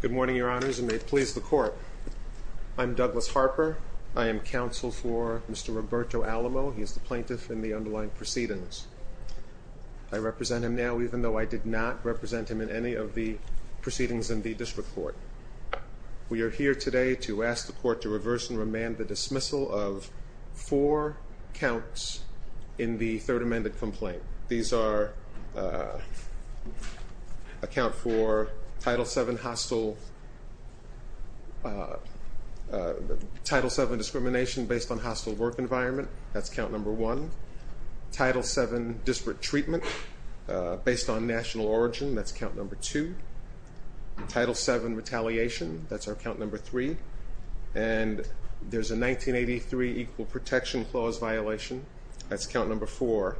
Good morning, your honors, and may it please the court. I'm Douglas Harper. I am counsel for Mr. Roberto Alamo. He is the plaintiff in the underlying proceedings. I represent him now, even though I did not represent him in any of the proceedings in the district court. We are here today to ask the court to reverse and remand the dismissal of four counts in the third amended complaint. These are a count for Title VII discrimination based on hostile work environment, that's count number one. Title VII disparate treatment based on national origin, that's count number two. Title VII retaliation, that's our count number three. And there's a 1983 equal protection clause violation, that's count number four.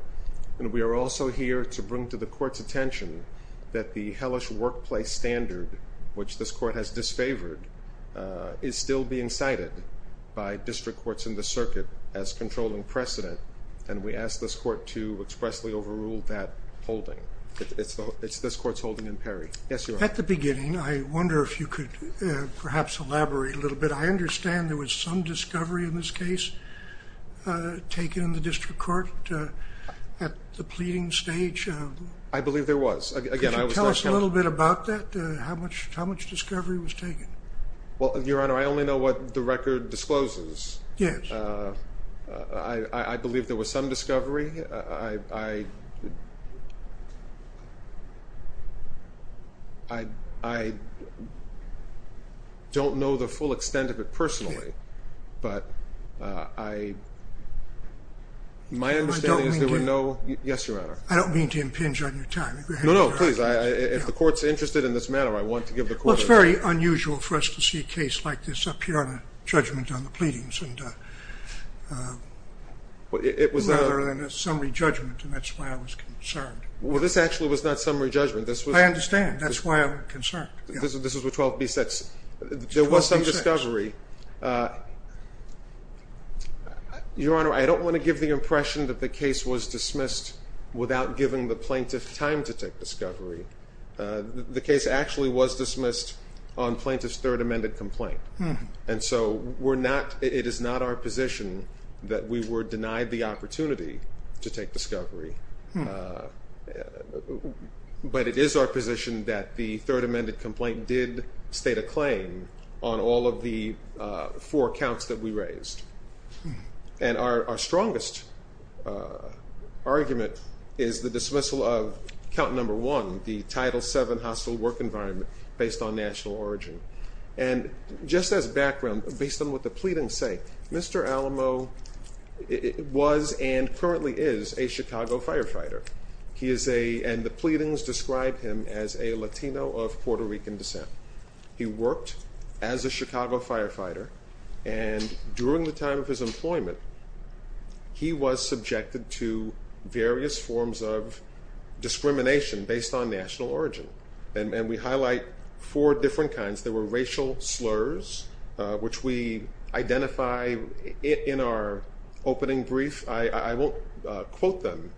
And we are also here to bring to the court's attention that the hellish workplace standard, which this court has disfavored, is still being cited by district courts in the circuit as controlling precedent. And we ask this court to expressly overrule that holding. It's this court's holding in Perry. At the beginning, I wonder if you could perhaps elaborate a little bit. I understand there was some discovery in this case taken in the district court at the pleading stage. I believe there was. Could you tell us a little bit about that, how much discovery was taken? Well, Your Honor, I only know what the record discloses. Yes. I believe there was some discovery. I don't know the full extent of it personally, but my understanding is there were no. Yes, Your Honor. I don't mean to impinge on your time. No, no, please. If the court's interested in this matter, I want to give the court a chance. Well, it's very unusual for us to see a case like this up here on a judgment on the pleadings rather than a summary judgment, and that's why I was concerned. Well, this actually was not summary judgment. I understand. That's why I'm concerned. This was with 12b-6. 12b-6. There was some discovery. Your Honor, I don't want to give the impression that the case was dismissed without giving the plaintiff time to take discovery. The case actually was dismissed on plaintiff's third amended complaint, and so it is not our position that we were denied the opportunity to take discovery, but it is our position that the third amended complaint did state a claim on all of the four counts that we raised. And our strongest argument is the dismissal of count number one, the Title VII hostile work environment based on national origin. And just as background, based on what the pleadings say, Mr. Alamo was and currently is a Chicago firefighter, and the pleadings describe him as a Latino of Puerto Rican descent. He worked as a Chicago firefighter, and during the time of his employment, he was subjected to various forms of discrimination based on national origin. And we highlight four different kinds. There were racial slurs, which we identify in our opening brief. I won't quote them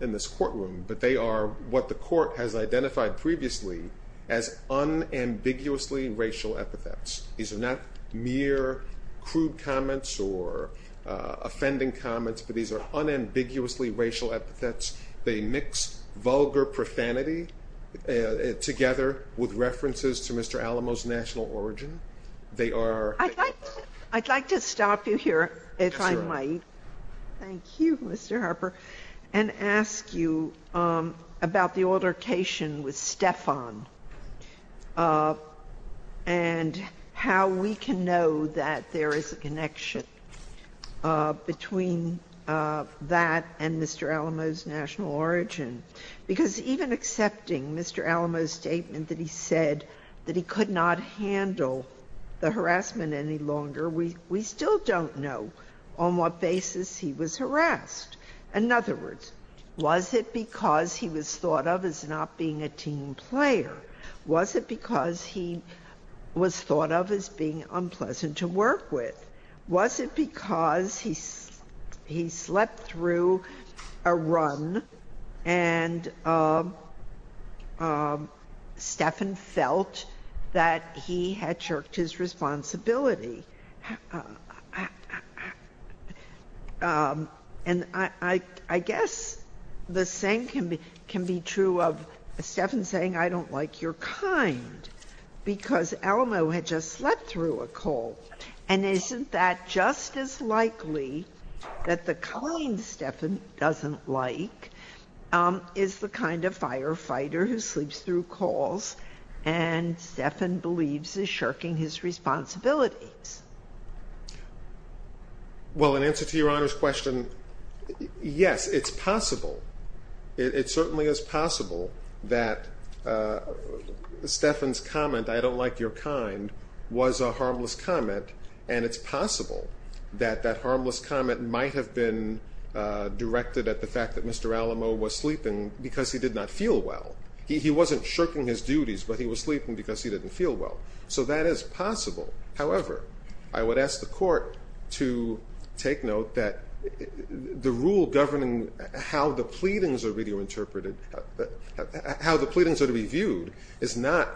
in this courtroom, but they are what the court has identified previously as unambiguously racial epithets. These are not mere crude comments or offending comments, but these are unambiguously racial epithets. They mix vulgar profanity together with references to Mr. Alamo's national origin. I'd like to stop you here, if I might. Thank you, Mr. Harper. And ask you about the altercation with Stefan and how we can know that there is a connection between that and Mr. Alamo's national origin. Because even accepting Mr. Alamo's statement that he said that he could not handle the harassment any longer, we still don't know on what basis he was harassed. In other words, was it because he was thought of as not being a team player? Was it because he was thought of as being unpleasant to work with? Was it because he slept through a run and Stefan felt that he had jerked his responsibility? And I guess the same can be true of Stefan saying, I don't like your kind, because Alamo had just slept through a cold. And isn't that just as likely that the kind Stefan doesn't like is the kind of firefighter who sleeps through calls and Stefan believes is shirking his responsibilities? Well, in answer to Your Honor's question, yes, it's possible. It certainly is possible that Stefan's comment, I don't like your kind, was a harmless comment, and it's possible that that harmless comment might have been directed at the fact that Mr. Alamo was sleeping because he did not feel well. He wasn't shirking his duties, but he was sleeping because he didn't feel well. So that is possible. However, I would ask the court to take note that the rule governing how the pleadings are to be viewed is not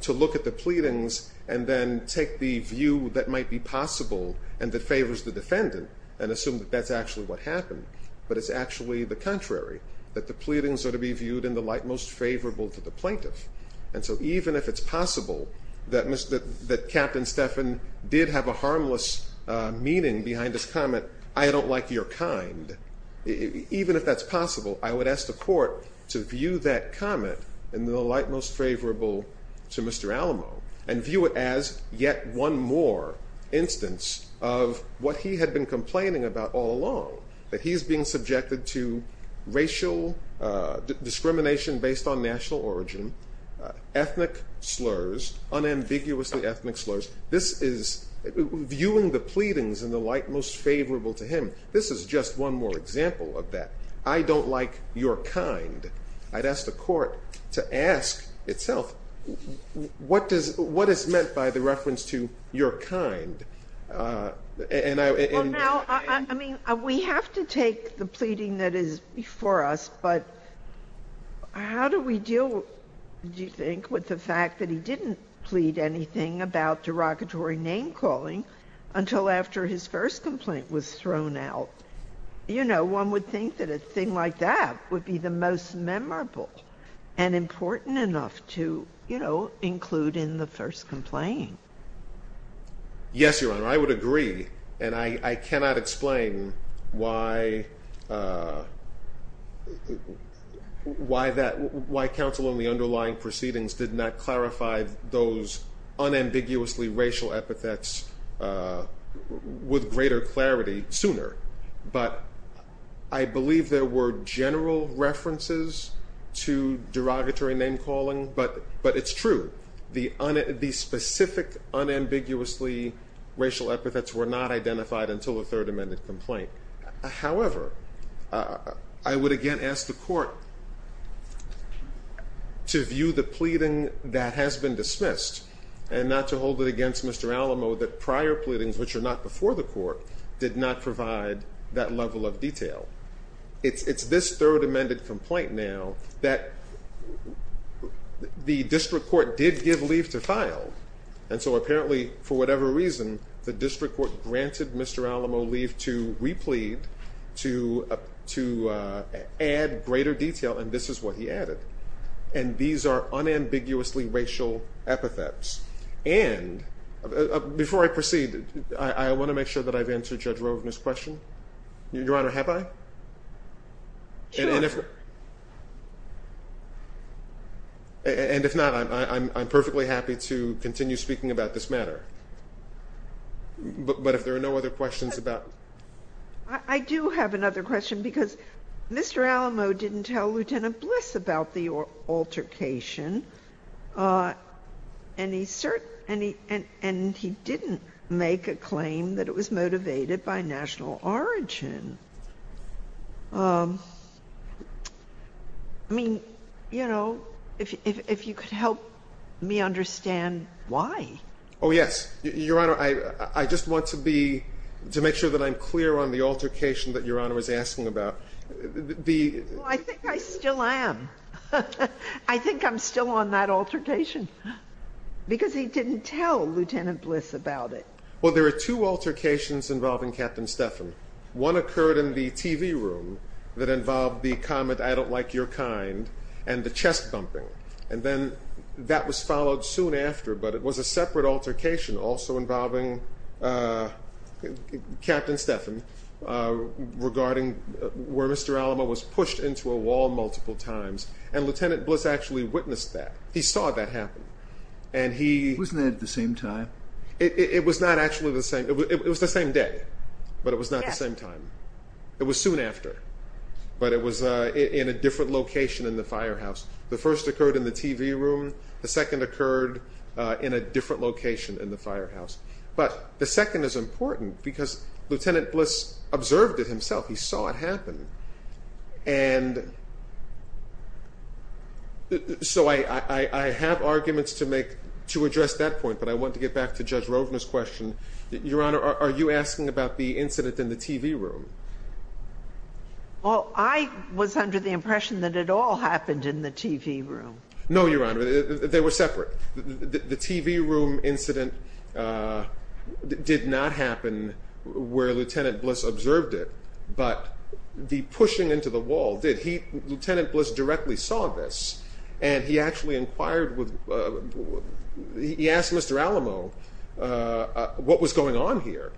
to look at the pleadings and then take the view that might be possible and that favors the defendant and assume that that's actually what happened, but it's actually the contrary, that the pleadings are to be viewed in the light most favorable to the plaintiff. And so even if it's possible that Captain Stefan did have a harmless meaning behind his comment, I don't like your kind, even if that's possible, I would ask the court to view that comment in the light most favorable to Mr. Alamo and view it as yet one more instance of what he had been complaining about all along, that he's being subjected to racial discrimination based on national origin, ethnic slurs, unambiguously ethnic slurs. This is viewing the pleadings in the light most favorable to him. This is just one more example of that. I don't like your kind. I'd ask the court to ask itself what is meant by the reference to your kind. Well, now, I mean, we have to take the pleading that is before us, but how do we deal, do you think, with the fact that he didn't plead anything about derogatory name calling until after his first complaint was thrown out? You know, one would think that a thing like that would be the most memorable and important enough to, you know, include in the first complaint. Yes, Your Honor, I would agree, and I cannot explain why that, why counsel in the underlying proceedings did not clarify those unambiguously racial epithets with greater clarity sooner. But I believe there were general references to derogatory name calling, but it's true. The specific unambiguously racial epithets were not identified until the third amended complaint. However, I would again ask the court to view the pleading that has been dismissed and not to hold it against Mr. Alamo that prior pleadings, which are not before the court, it's this third amended complaint now that the district court did give leave to file. And so apparently, for whatever reason, the district court granted Mr. Alamo leave to replete, to add greater detail, and this is what he added. And these are unambiguously racial epithets. And before I proceed, I want to make sure that I've answered Judge Roven's question. Your Honor, have I? Sure. And if not, I'm perfectly happy to continue speaking about this matter. But if there are no other questions about. I do have another question because Mr. Alamo didn't tell Lieutenant Bliss about the altercation, and he didn't make a claim that it was motivated by national origin. I mean, you know, if you could help me understand why. Oh, yes. Your Honor, I just want to be, to make sure that I'm clear on the altercation that Your Honor was asking about. I think I still am. I think I'm still on that altercation because he didn't tell Lieutenant Bliss about it. Well, there are two altercations involving Captain Stephan. One occurred in the TV room that involved the comment, I don't like your kind, and the chest bumping. And then that was followed soon after, but it was a separate altercation also involving Captain Stephan, regarding where Mr. Alamo was pushed into a wall multiple times. And Lieutenant Bliss actually witnessed that. He saw that happen. Wasn't that at the same time? It was not actually the same. It was the same day, but it was not the same time. It was soon after, but it was in a different location in the firehouse. The first occurred in the TV room. The second occurred in a different location in the firehouse. But the second is important because Lieutenant Bliss observed it himself. He saw it happen. And so I have arguments to address that point, but I want to get back to Judge Rovner's question. Your Honor, are you asking about the incident in the TV room? Well, I was under the impression that it all happened in the TV room. No, Your Honor. They were separate. The TV room incident did not happen where Lieutenant Bliss observed it, but the pushing into the wall did. Lieutenant Bliss directly saw this, and he actually inquired with—he asked Mr. Alamo what was going on here.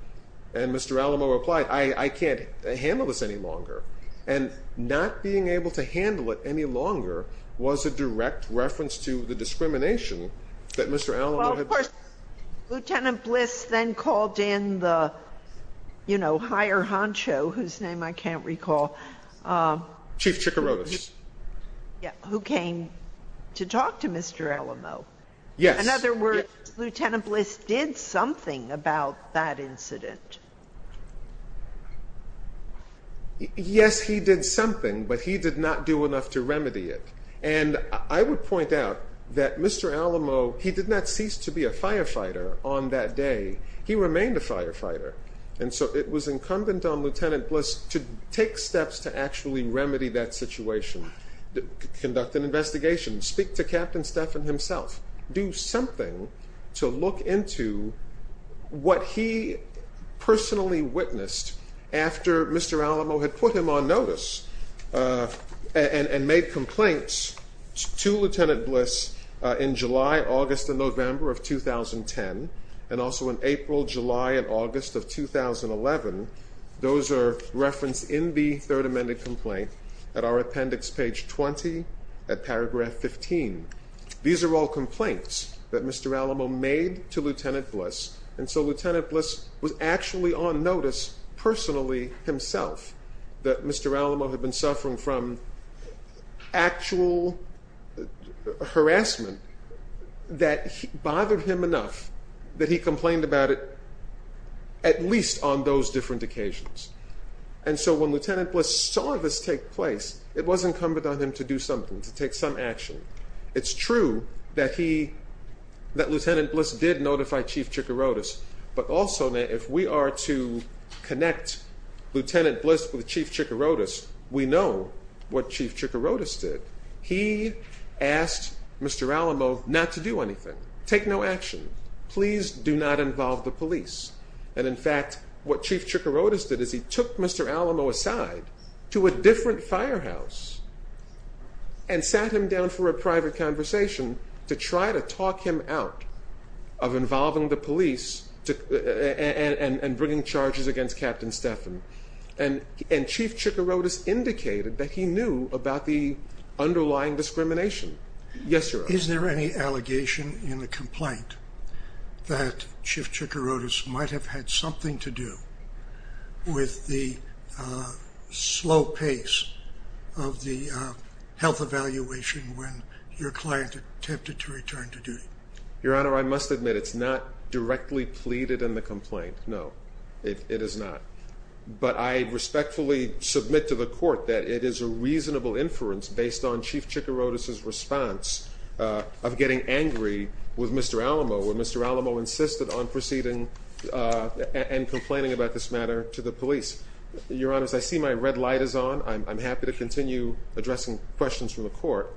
And Mr. Alamo replied, I can't handle this any longer. And not being able to handle it any longer was a direct reference to the discrimination that Mr. Alamo had— Well, of course, Lieutenant Bliss then called in the higher honcho, whose name I can't recall. Chief Chikorotis. Yeah, who came to talk to Mr. Alamo. Yes. In other words, Lieutenant Bliss did something about that incident. Yes, he did something, but he did not do enough to remedy it. And I would point out that Mr. Alamo, he did not cease to be a firefighter on that day. He remained a firefighter. And so it was incumbent on Lieutenant Bliss to take steps to actually remedy that situation, conduct an investigation, speak to Captain Stephan himself, do something to look into what he personally witnessed after Mr. Alamo had put him on notice and made complaints to Lieutenant Bliss in July, August, and November of 2010, and also in April, July, and August of 2011. Those are referenced in the third amended complaint at our appendix, page 20, at paragraph 15. These are all complaints that Mr. Alamo made to Lieutenant Bliss, and so Lieutenant Bliss was actually on notice personally himself that Mr. Alamo had been suffering from actual harassment that bothered him enough that he complained about it at least on those different occasions. And so when Lieutenant Bliss saw this take place, it was incumbent on him to do something, to take some action. It's true that Lieutenant Bliss did notify Chief Chikorotis, but also if we are to connect Lieutenant Bliss with Chief Chikorotis, we know what Chief Chikorotis did. He asked Mr. Alamo not to do anything, take no action, please do not involve the police. And in fact, what Chief Chikorotis did is he took Mr. Alamo aside to a different firehouse and sat him down for a private conversation to try to talk him out of involving the police and bringing charges against Captain Stephan. And Chief Chikorotis indicated that he knew about the underlying discrimination. Is there any allegation in the complaint that Chief Chikorotis might have had something to do with the slow pace of the health evaluation when your client attempted to return to duty? Your Honor, I must admit it's not directly pleaded in the complaint, no, it is not. But I respectfully submit to the court that it is a reasonable inference based on Chief Chikorotis' response of getting angry with Mr. Alamo when Mr. Alamo insisted on proceeding and complaining about this matter to the police. Your Honor, as I see my red light is on, I'm happy to continue addressing questions from the court.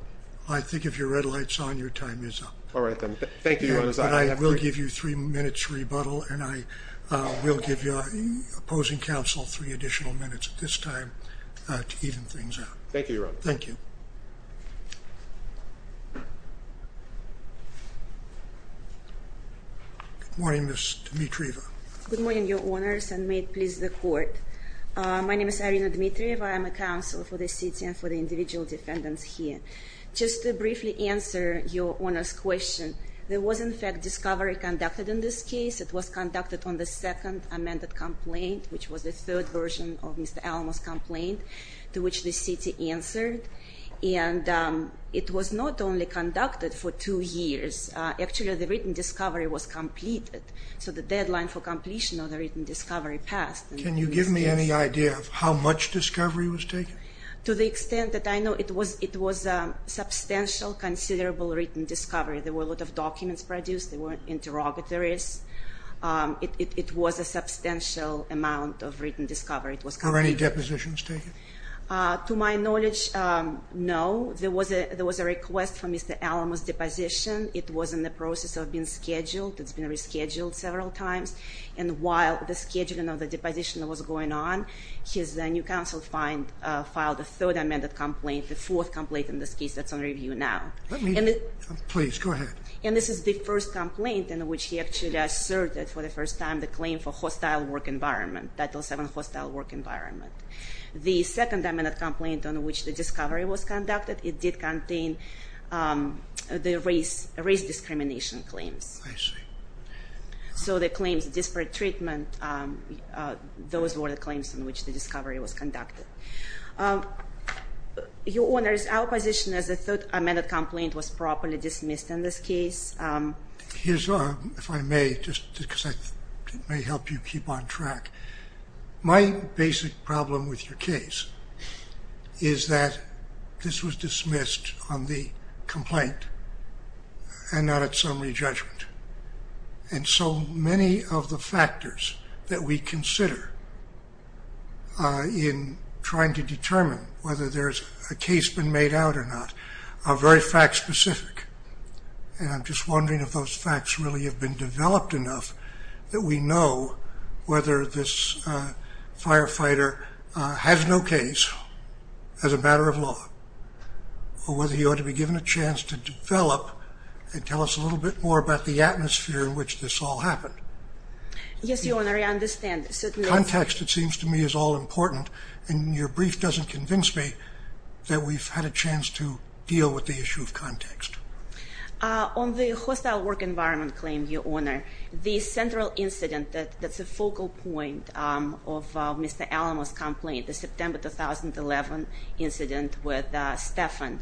I think if your red light's on, your time is up. All right, then. Thank you, Your Honor. I will give you three minutes rebuttal and I will give your opposing counsel three additional minutes at this time to even things out. Thank you, Your Honor. Thank you. Good morning, Ms. Dimitrieva. Good morning, Your Honors, and may it please the court. My name is Irina Dimitrieva. I am a counsel for the city and for the individual defendants here. Just to briefly answer your Honor's question, there was, in fact, discovery conducted in this case. It was conducted on the second amended complaint, which was the third version of Mr. Alamo's complaint, to which the city answered. And it was not only conducted for two years. Actually, the written discovery was completed, so the deadline for completion of the written discovery passed. Can you give me any idea of how much discovery was taken? To the extent that I know, it was a substantial, considerable written discovery. There were a lot of documents produced. They weren't interrogatories. It was a substantial amount of written discovery. Were any depositions taken? To my knowledge, no. There was a request for Mr. Alamo's deposition. It was in the process of being scheduled. It's been rescheduled several times. And while the scheduling of the deposition was going on, his new counsel filed a third amended complaint, the fourth complaint in this case that's under review now. Let me, please, go ahead. And this is the first complaint in which he actually asserted for the first time the claim for hostile work environment, Title VII hostile work environment. The second amended complaint on which the discovery was conducted, it did contain the race discrimination claims. I see. So the claims of disparate treatment, those were the claims on which the discovery was conducted. Your Honors, our position is the third amended complaint was properly dismissed in this case. Here's a, if I may, just because it may help you keep on track, my basic problem with your case is that this was dismissed on the complaint and not at summary judgment. And so many of the factors that we consider in trying to determine whether there's a case been made out or not are very fact specific. And I'm just wondering if those facts really have been developed enough that we know whether this firefighter has no case as a matter of law, or whether he ought to be given a chance to develop and tell us a little bit more about the atmosphere in which this all happened. Yes, Your Honor, I understand. Context, it seems to me, is all important and your brief doesn't convince me that we've had a chance to deal with the issue of context. On the hostile work environment claim, Your Honor, the central incident that's a focal point of Mr. Alamo's complaint, the September 2011 incident with Stephan,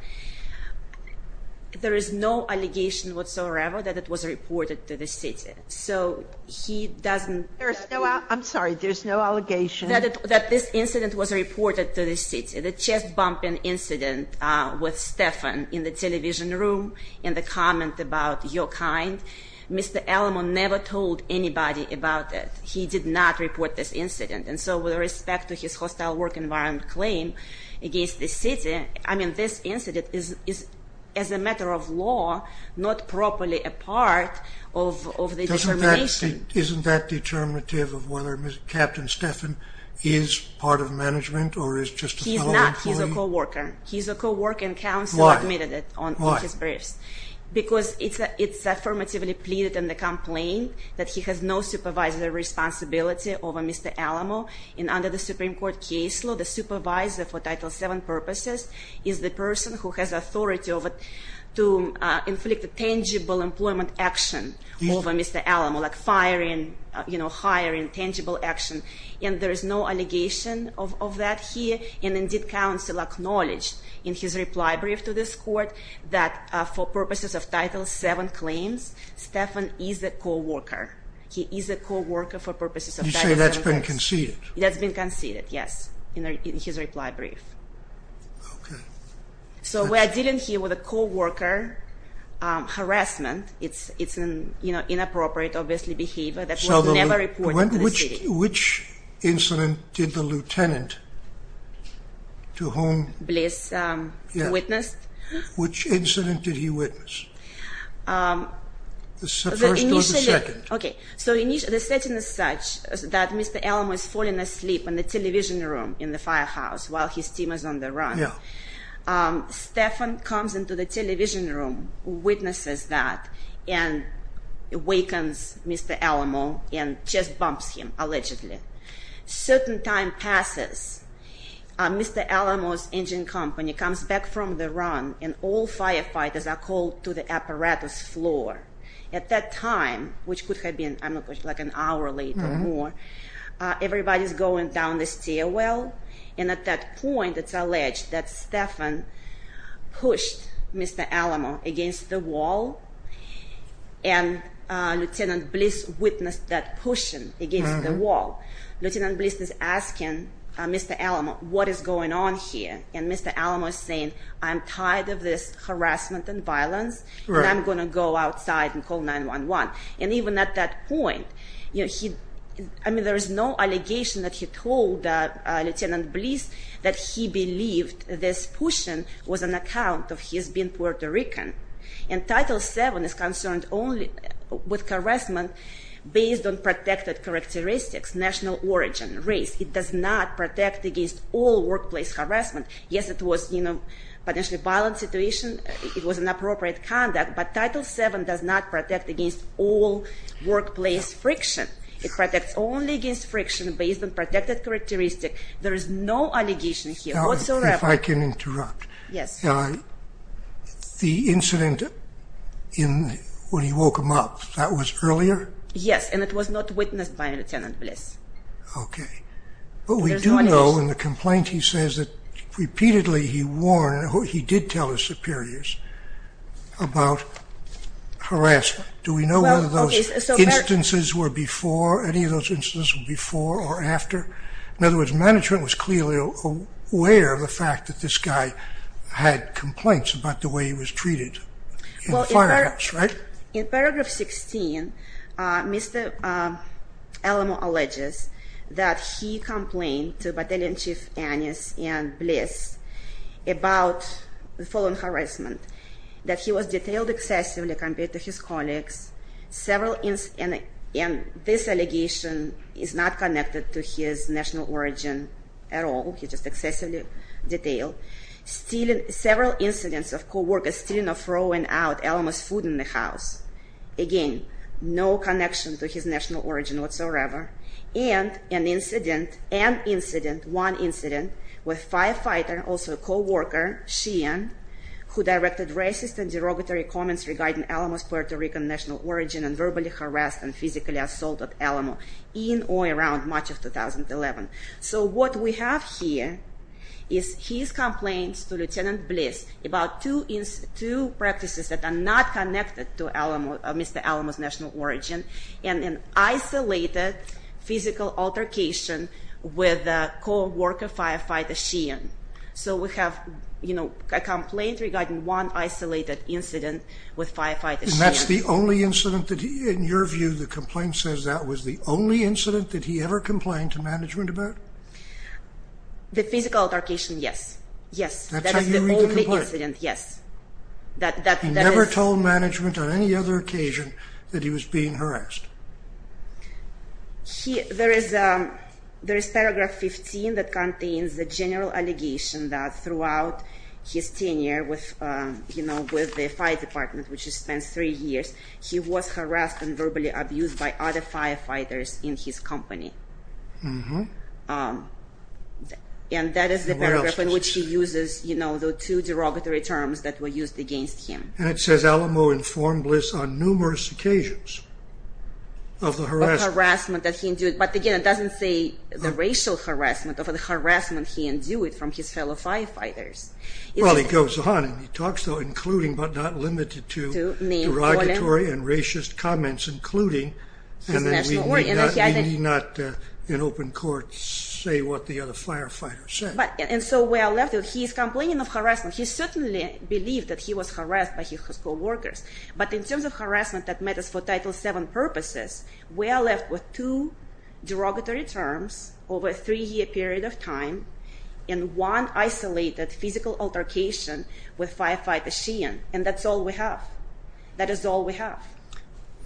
there is no allegation whatsoever that it was reported to the city. So he doesn't- There's no, I'm sorry, there's no allegation- That this incident was reported to the city. The chest bumping incident with Stephan in the television room and the comment about your kind, Mr. Alamo never told anybody about it. He did not report this incident. And so with respect to his hostile work environment claim against the city, I mean, this incident is, as a matter of law, not properly a part of the determination. Isn't that determinative of whether Captain Stephan is part of management or is just a fellow employee? He's not. He's a co-worker. He's a co-worker and counsel admitted it on his briefs. Why? Because it's affirmatively pleaded in the complaint that he has no supervisory responsibility over Mr. Alamo. And under the Supreme Court case law, the supervisor for Title VII purposes is the person who has authority to inflict a tangible employment action over Mr. Alamo, like firing, hiring, tangible action. And there is no allegation of that here. And indeed, counsel acknowledged in his reply brief to this court that for purposes of Title VII claims, Stephan is a co-worker. He is a co-worker for purposes of Title VII claims. You say that's been conceded? That's been conceded, yes, in his reply brief. Okay. So we're dealing here with a co-worker harassment. It's an inappropriate, obviously, behavior that was never reported to the city. Which incident did the lieutenant to whom? Bliss witnessed? Which incident did he witness? The first or the second? Okay. So the setting is such that Mr. Alamo is falling asleep in the television room in the firehouse while his team is on the run. Yeah. Stephan comes into the television room, witnesses that, and awakens Mr. Alamo and just bumps him, allegedly. Certain time passes. Mr. Alamo's engine company comes back from the run, and all firefighters are called to the apparatus floor. At that time, which could have been, I don't know, like an hour late or more, everybody's going down the stairwell. And at that point, it's alleged that Stephan pushed Mr. Alamo against the wall, and Lieutenant Bliss witnessed that pushing against the wall. Lieutenant Bliss is asking Mr. Alamo, what is going on here? And Mr. Alamo is saying, I'm tired of this harassment and violence, and I'm going to go outside and call 911. And even at that point, I mean, there is no allegation that he told Lieutenant Bliss that he believed this pushing was an account of his being Puerto Rican. And Title VII is concerned only with harassment based on protected characteristics, national origin, race. It does not protect against all workplace harassment. Yes, it was potentially a violent situation. It was inappropriate conduct. But Title VII does not protect against all workplace friction. It protects only against friction based on protected characteristics. There is no allegation here whatsoever. If I can interrupt. Yes. The incident when he woke him up, that was earlier? Yes, and it was not witnessed by Lieutenant Bliss. Okay. But we do know in the complaint he says that repeatedly he warned, he did tell his superiors about harassment. Do we know whether those instances were before, any of those instances were before or after? In other words, management was clearly aware of the fact that this guy had complaints about the way he was treated in the firehouse, right? In paragraph 16, Mr. Alamo alleges that he complained to Battalion Chief Annis and Bliss about the following harassment. That he was detailed excessively compared to his colleagues. And this allegation is not connected to his national origin at all. He's just excessively detailed. Several incidents of coworkers stealing or throwing out Alamo's food in the house. Again, no connection to his national origin whatsoever. And an incident, one incident, with a firefighter, also a coworker, Sheehan, who directed racist and derogatory comments regarding Alamo's Puerto Rican national origin and verbally harassed and physically assaulted Alamo in or around March of 2011. So what we have here is his complaints to Lieutenant Bliss about two practices that are not connected to Mr. Alamo's national origin and an isolated physical altercation with a coworker firefighter, Sheehan. So we have a complaint regarding one isolated incident with firefighter Sheehan. And that's the only incident that, in your view, the complaint says that was the only incident that he ever complained to management about? The physical altercation, yes. Yes. That's how you read the complaint? That is the only incident, yes. He never told management on any other occasion that he was being harassed? There is paragraph 15 that contains the general allegation that throughout his tenure with the fire department, which he spent three years, he was harassed and verbally abused by other firefighters in his company. And that is the paragraph in which he uses the two derogatory terms that were used against him. And it says Alamo informed Bliss on numerous occasions of the harassment that he endured. But again, it doesn't say the racial harassment or the harassment he endured from his fellow firefighters. Well, he goes on and he talks about including but not limited to derogatory and racist comments, including that we need not in open court say what the other firefighters said. And so we are left with he is complaining of harassment. He certainly believed that he was harassed by his co-workers. But in terms of harassment that matters for Title VII purposes, we are left with two derogatory terms over a three-year period of time and one isolated physical altercation with firefighter Sheehan. And that's all we have. That is all we have.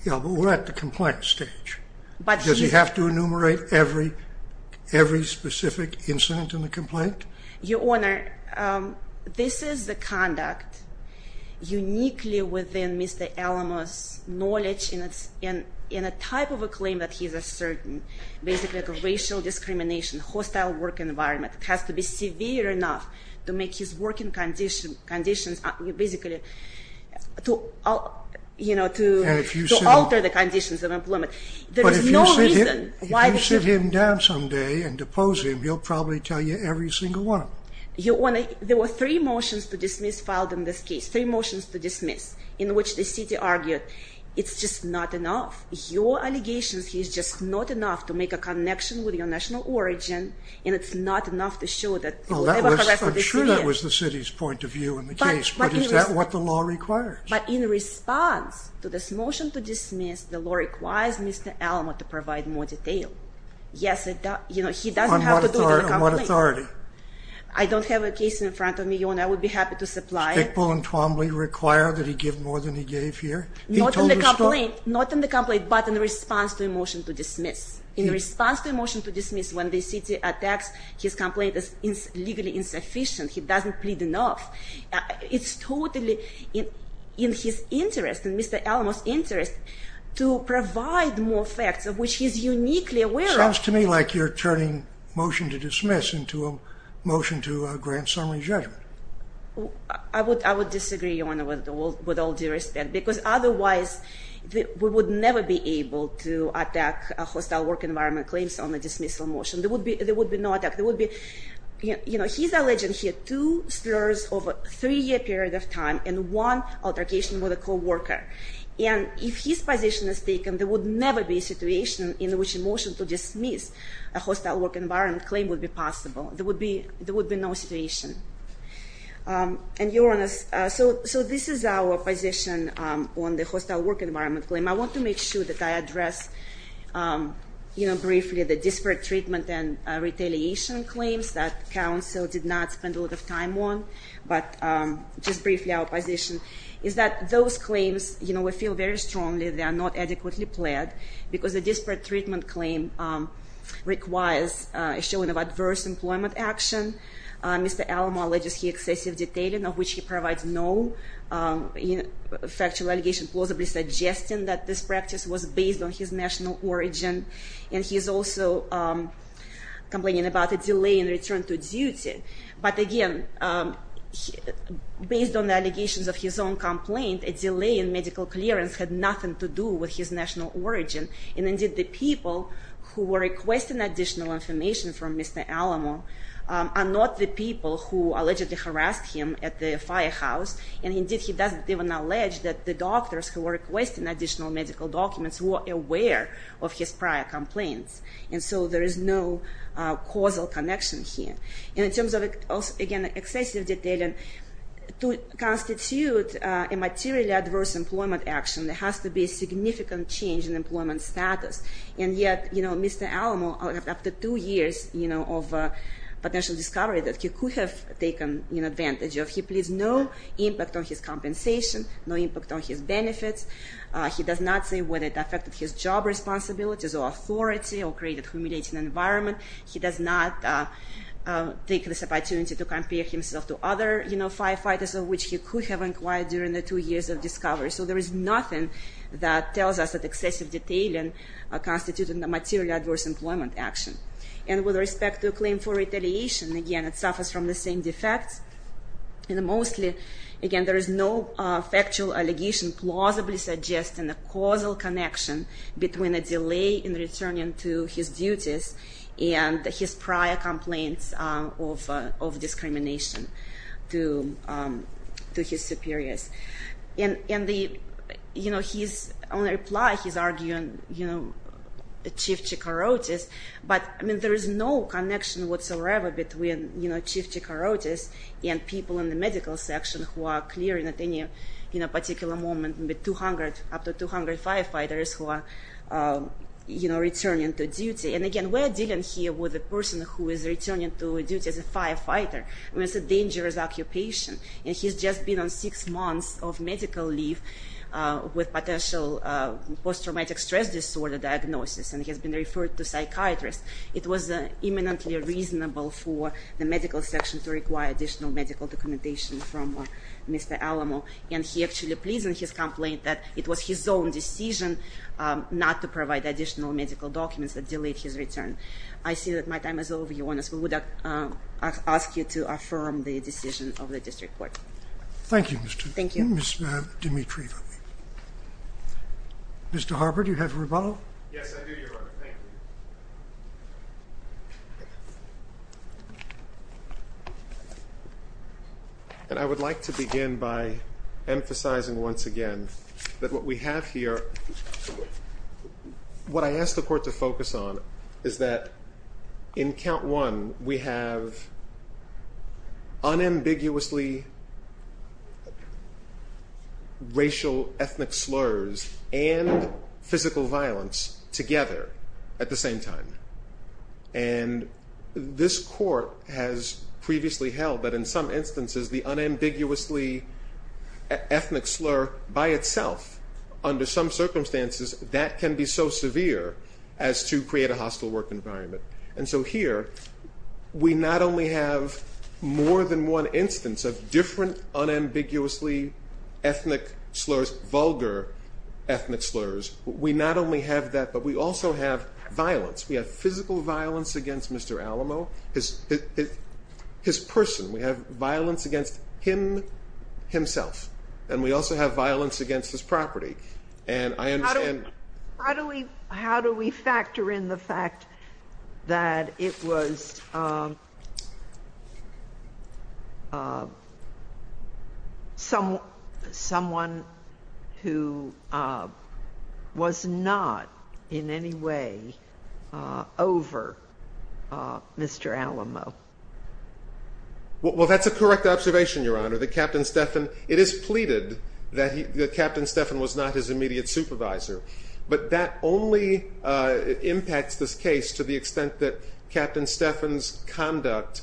Yeah, but we're at the complaint stage. Does he have to enumerate every specific incident in the complaint? Your Honor, this is the conduct uniquely within Mr. Alamo's knowledge in a type of a claim that he's a certain, basically a racial discrimination, hostile work environment. It has to be severe enough to make his working conditions basically to alter the conditions of employment. But if you sit him down someday and depose him, he'll probably tell you every single one of them. Your Honor, there were three motions to dismiss filed in this case, three motions to dismiss, in which the city argued it's just not enough. Your allegations here is just not enough to make a connection with your national origin, and it's not enough to show that you were ever harassed by the city. I'm sure that was the city's point of view in the case, but is that what the law requires? But in response to this motion to dismiss, the law requires Mr. Alamo to provide more detail. Yes, he doesn't have to do it in the complaint. On what authority? I don't have a case in front of me, Your Honor. I would be happy to supply it. Stickball and Twombly require that he give more than he gave here? Not in the complaint, but in response to a motion to dismiss. In response to a motion to dismiss, when the city attacks, his complaint is legally insufficient. He doesn't plead enough. It's totally in his interest, in Mr. Alamo's interest, to provide more facts of which he's uniquely aware of. Sounds to me like you're turning a motion to dismiss into a motion to grant summary judgment. I would disagree, Your Honor, with all due respect, because otherwise we would never be able to attack a hostile work environment claims on a dismissal motion. There would be no attack. He's alleging he had two slurs over a three-year period of time and one altercation with a co-worker. And if his position is taken, there would never be a situation in which a motion to dismiss a hostile work environment claim would be possible. There would be no situation. And, Your Honor, so this is our position on the hostile work environment claim. I want to make sure that I address, you know, briefly the disparate treatment and retaliation claims that counsel did not spend a lot of time on. But just briefly our position is that those claims, you know, we feel very strongly they are not adequately pled, because the disparate treatment claim requires a showing of adverse employment action. Mr. Alamo alleges he excessive detailing of which he provides no factual allegation, plausibly suggesting that this practice was based on his national origin. And he's also complaining about a delay in return to duty. But, again, based on the allegations of his own complaint, a delay in medical clearance had nothing to do with his national origin. And, indeed, the people who were requesting additional information from Mr. Alamo are not the people who allegedly harassed him at the firehouse. And, indeed, he doesn't even allege that the doctors who were requesting additional medical documents were aware of his prior complaints. And so there is no causal connection here. And in terms of, again, excessive detailing, to constitute a materially adverse employment action, there has to be a significant change in employment status. And yet, you know, Mr. Alamo, after two years, you know, of potential discovery that he could have taken advantage of, he pleads no impact on his compensation, no impact on his benefits. He does not say whether it affected his job responsibilities or authority or created a humiliating environment. He does not take this opportunity to compare himself to other, you know, firefighters of which he could have inquired during the two years of discovery. So there is nothing that tells us that excessive detailing constitutes a materially adverse employment action. And with respect to a claim for retaliation, again, it suffers from the same defects. And mostly, again, there is no factual allegation plausibly suggesting a causal connection between a delay in returning to his duties and his prior complaints of discrimination to his superiors. And the, you know, his only reply, he's arguing, you know, Chief Chikorotis. But, I mean, there is no connection whatsoever between, you know, Chief Chikorotis and people in the medical section who are clearing at any, you know, particular moment with 200, up to 200 firefighters who are, you know, returning to duty. And again, we're dealing here with a person who is returning to duty as a firefighter. I mean, it's a dangerous occupation. And he's just been on six months of medical leave with potential post-traumatic stress disorder diagnosis. And he has been referred to psychiatrists. It was imminently reasonable for the medical section to require additional medical documentation from Mr. Alamo. And he actually pleads in his complaint that it was his own decision not to provide additional medical documents that delayed his return. I see that my time is over. If you want us, we would ask you to affirm the decision of the district court. Thank you, Ms. Dimitri. Mr. Harper, do you have a rebuttal? Yes, I do, Your Honor. Thank you. And I would like to begin by emphasizing once again that what we have here, what I ask the court to focus on is that in count one, we have unambiguously racial ethnic slurs and physical violence together at the same time. And this court has previously held that in some instances, the unambiguously ethnic slur by itself, under some circumstances, that can be so severe as to create a hostile work environment. And so here, we not only have more than one instance of different unambiguously ethnic slurs, vulgar ethnic slurs. We not only have that, but we also have violence. We have physical violence against Mr. Alamo, his person. We have violence against him, himself. And we also have violence against his property. And I understand. How do we factor in the fact that it was someone who was not in any way over Mr. Alamo? Well, that's a correct observation, Your Honor. That Captain Stephan, it is pleaded that Captain Stephan was not his immediate supervisor. But that only impacts this case to the extent that Captain Stephan's conduct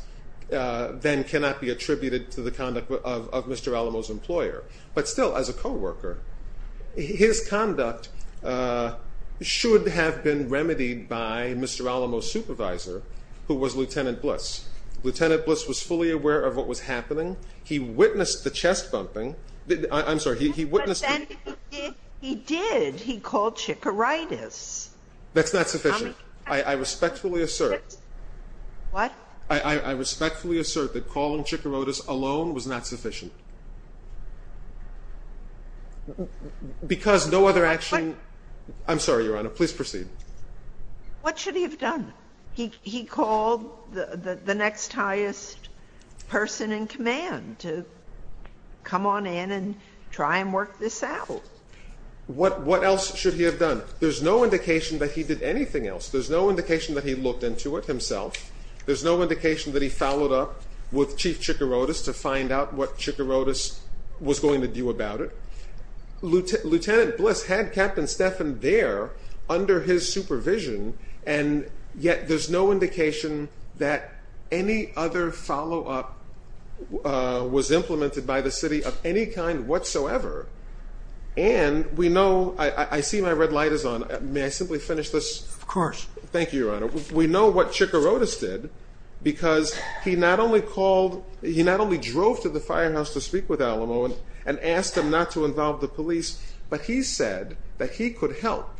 then cannot be attributed to the conduct of Mr. Alamo's employer. But still, as a co-worker, his conduct should have been remedied by Mr. Alamo's supervisor, who was Lieutenant Bliss. Lieutenant Bliss was fully aware of what was happening. He witnessed the chest bumping. I'm sorry. He witnessed. But then he did. He called chikoritis. That's not sufficient. I respectfully assert. What? I respectfully assert that calling chikoritis alone was not sufficient. Because no other action. I'm sorry, Your Honor. Please proceed. What should he have done? He called the next highest person in command to come on in and try and work this out. What else should he have done? There's no indication that he did anything else. There's no indication that he looked into it himself. There's no indication that he followed up with Chief Chikoritis to find out what Chikoritis was going to do about it. Lieutenant Bliss had Captain Stephan there under his supervision. And yet there's no indication that any other follow-up was implemented by the city of any kind whatsoever. And we know – I see my red light is on. May I simply finish this? Of course. Thank you, Your Honor. We know what Chikoritis did because he not only drove to the firehouse to speak with Alamo and asked him not to involve the police, but he said that he could help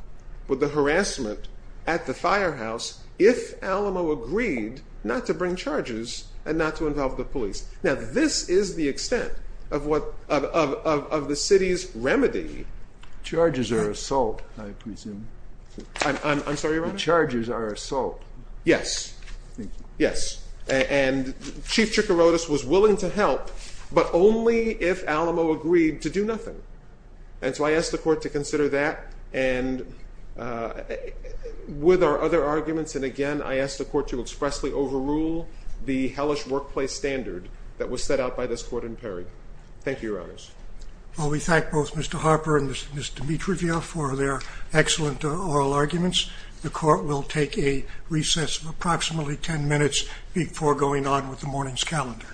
with the harassment at the firehouse if Alamo agreed not to bring charges and not to involve the police. Now, this is the extent of the city's remedy. Charges are assault, I presume. I'm sorry, Your Honor? Charges are assault. Yes. Thank you. Yes. And Chief Chikoritis was willing to help, but only if Alamo agreed to do nothing. And so I ask the Court to consider that and with our other arguments. And, again, I ask the Court to expressly overrule the hellish workplace standard that was set out by this Court in Perry. Thank you, Your Honors. Well, we thank both Mr. Harper and Ms. Dimitrivia for their excellent oral arguments. The Court will take a recess of approximately 10 minutes before going on with the morning's calendar.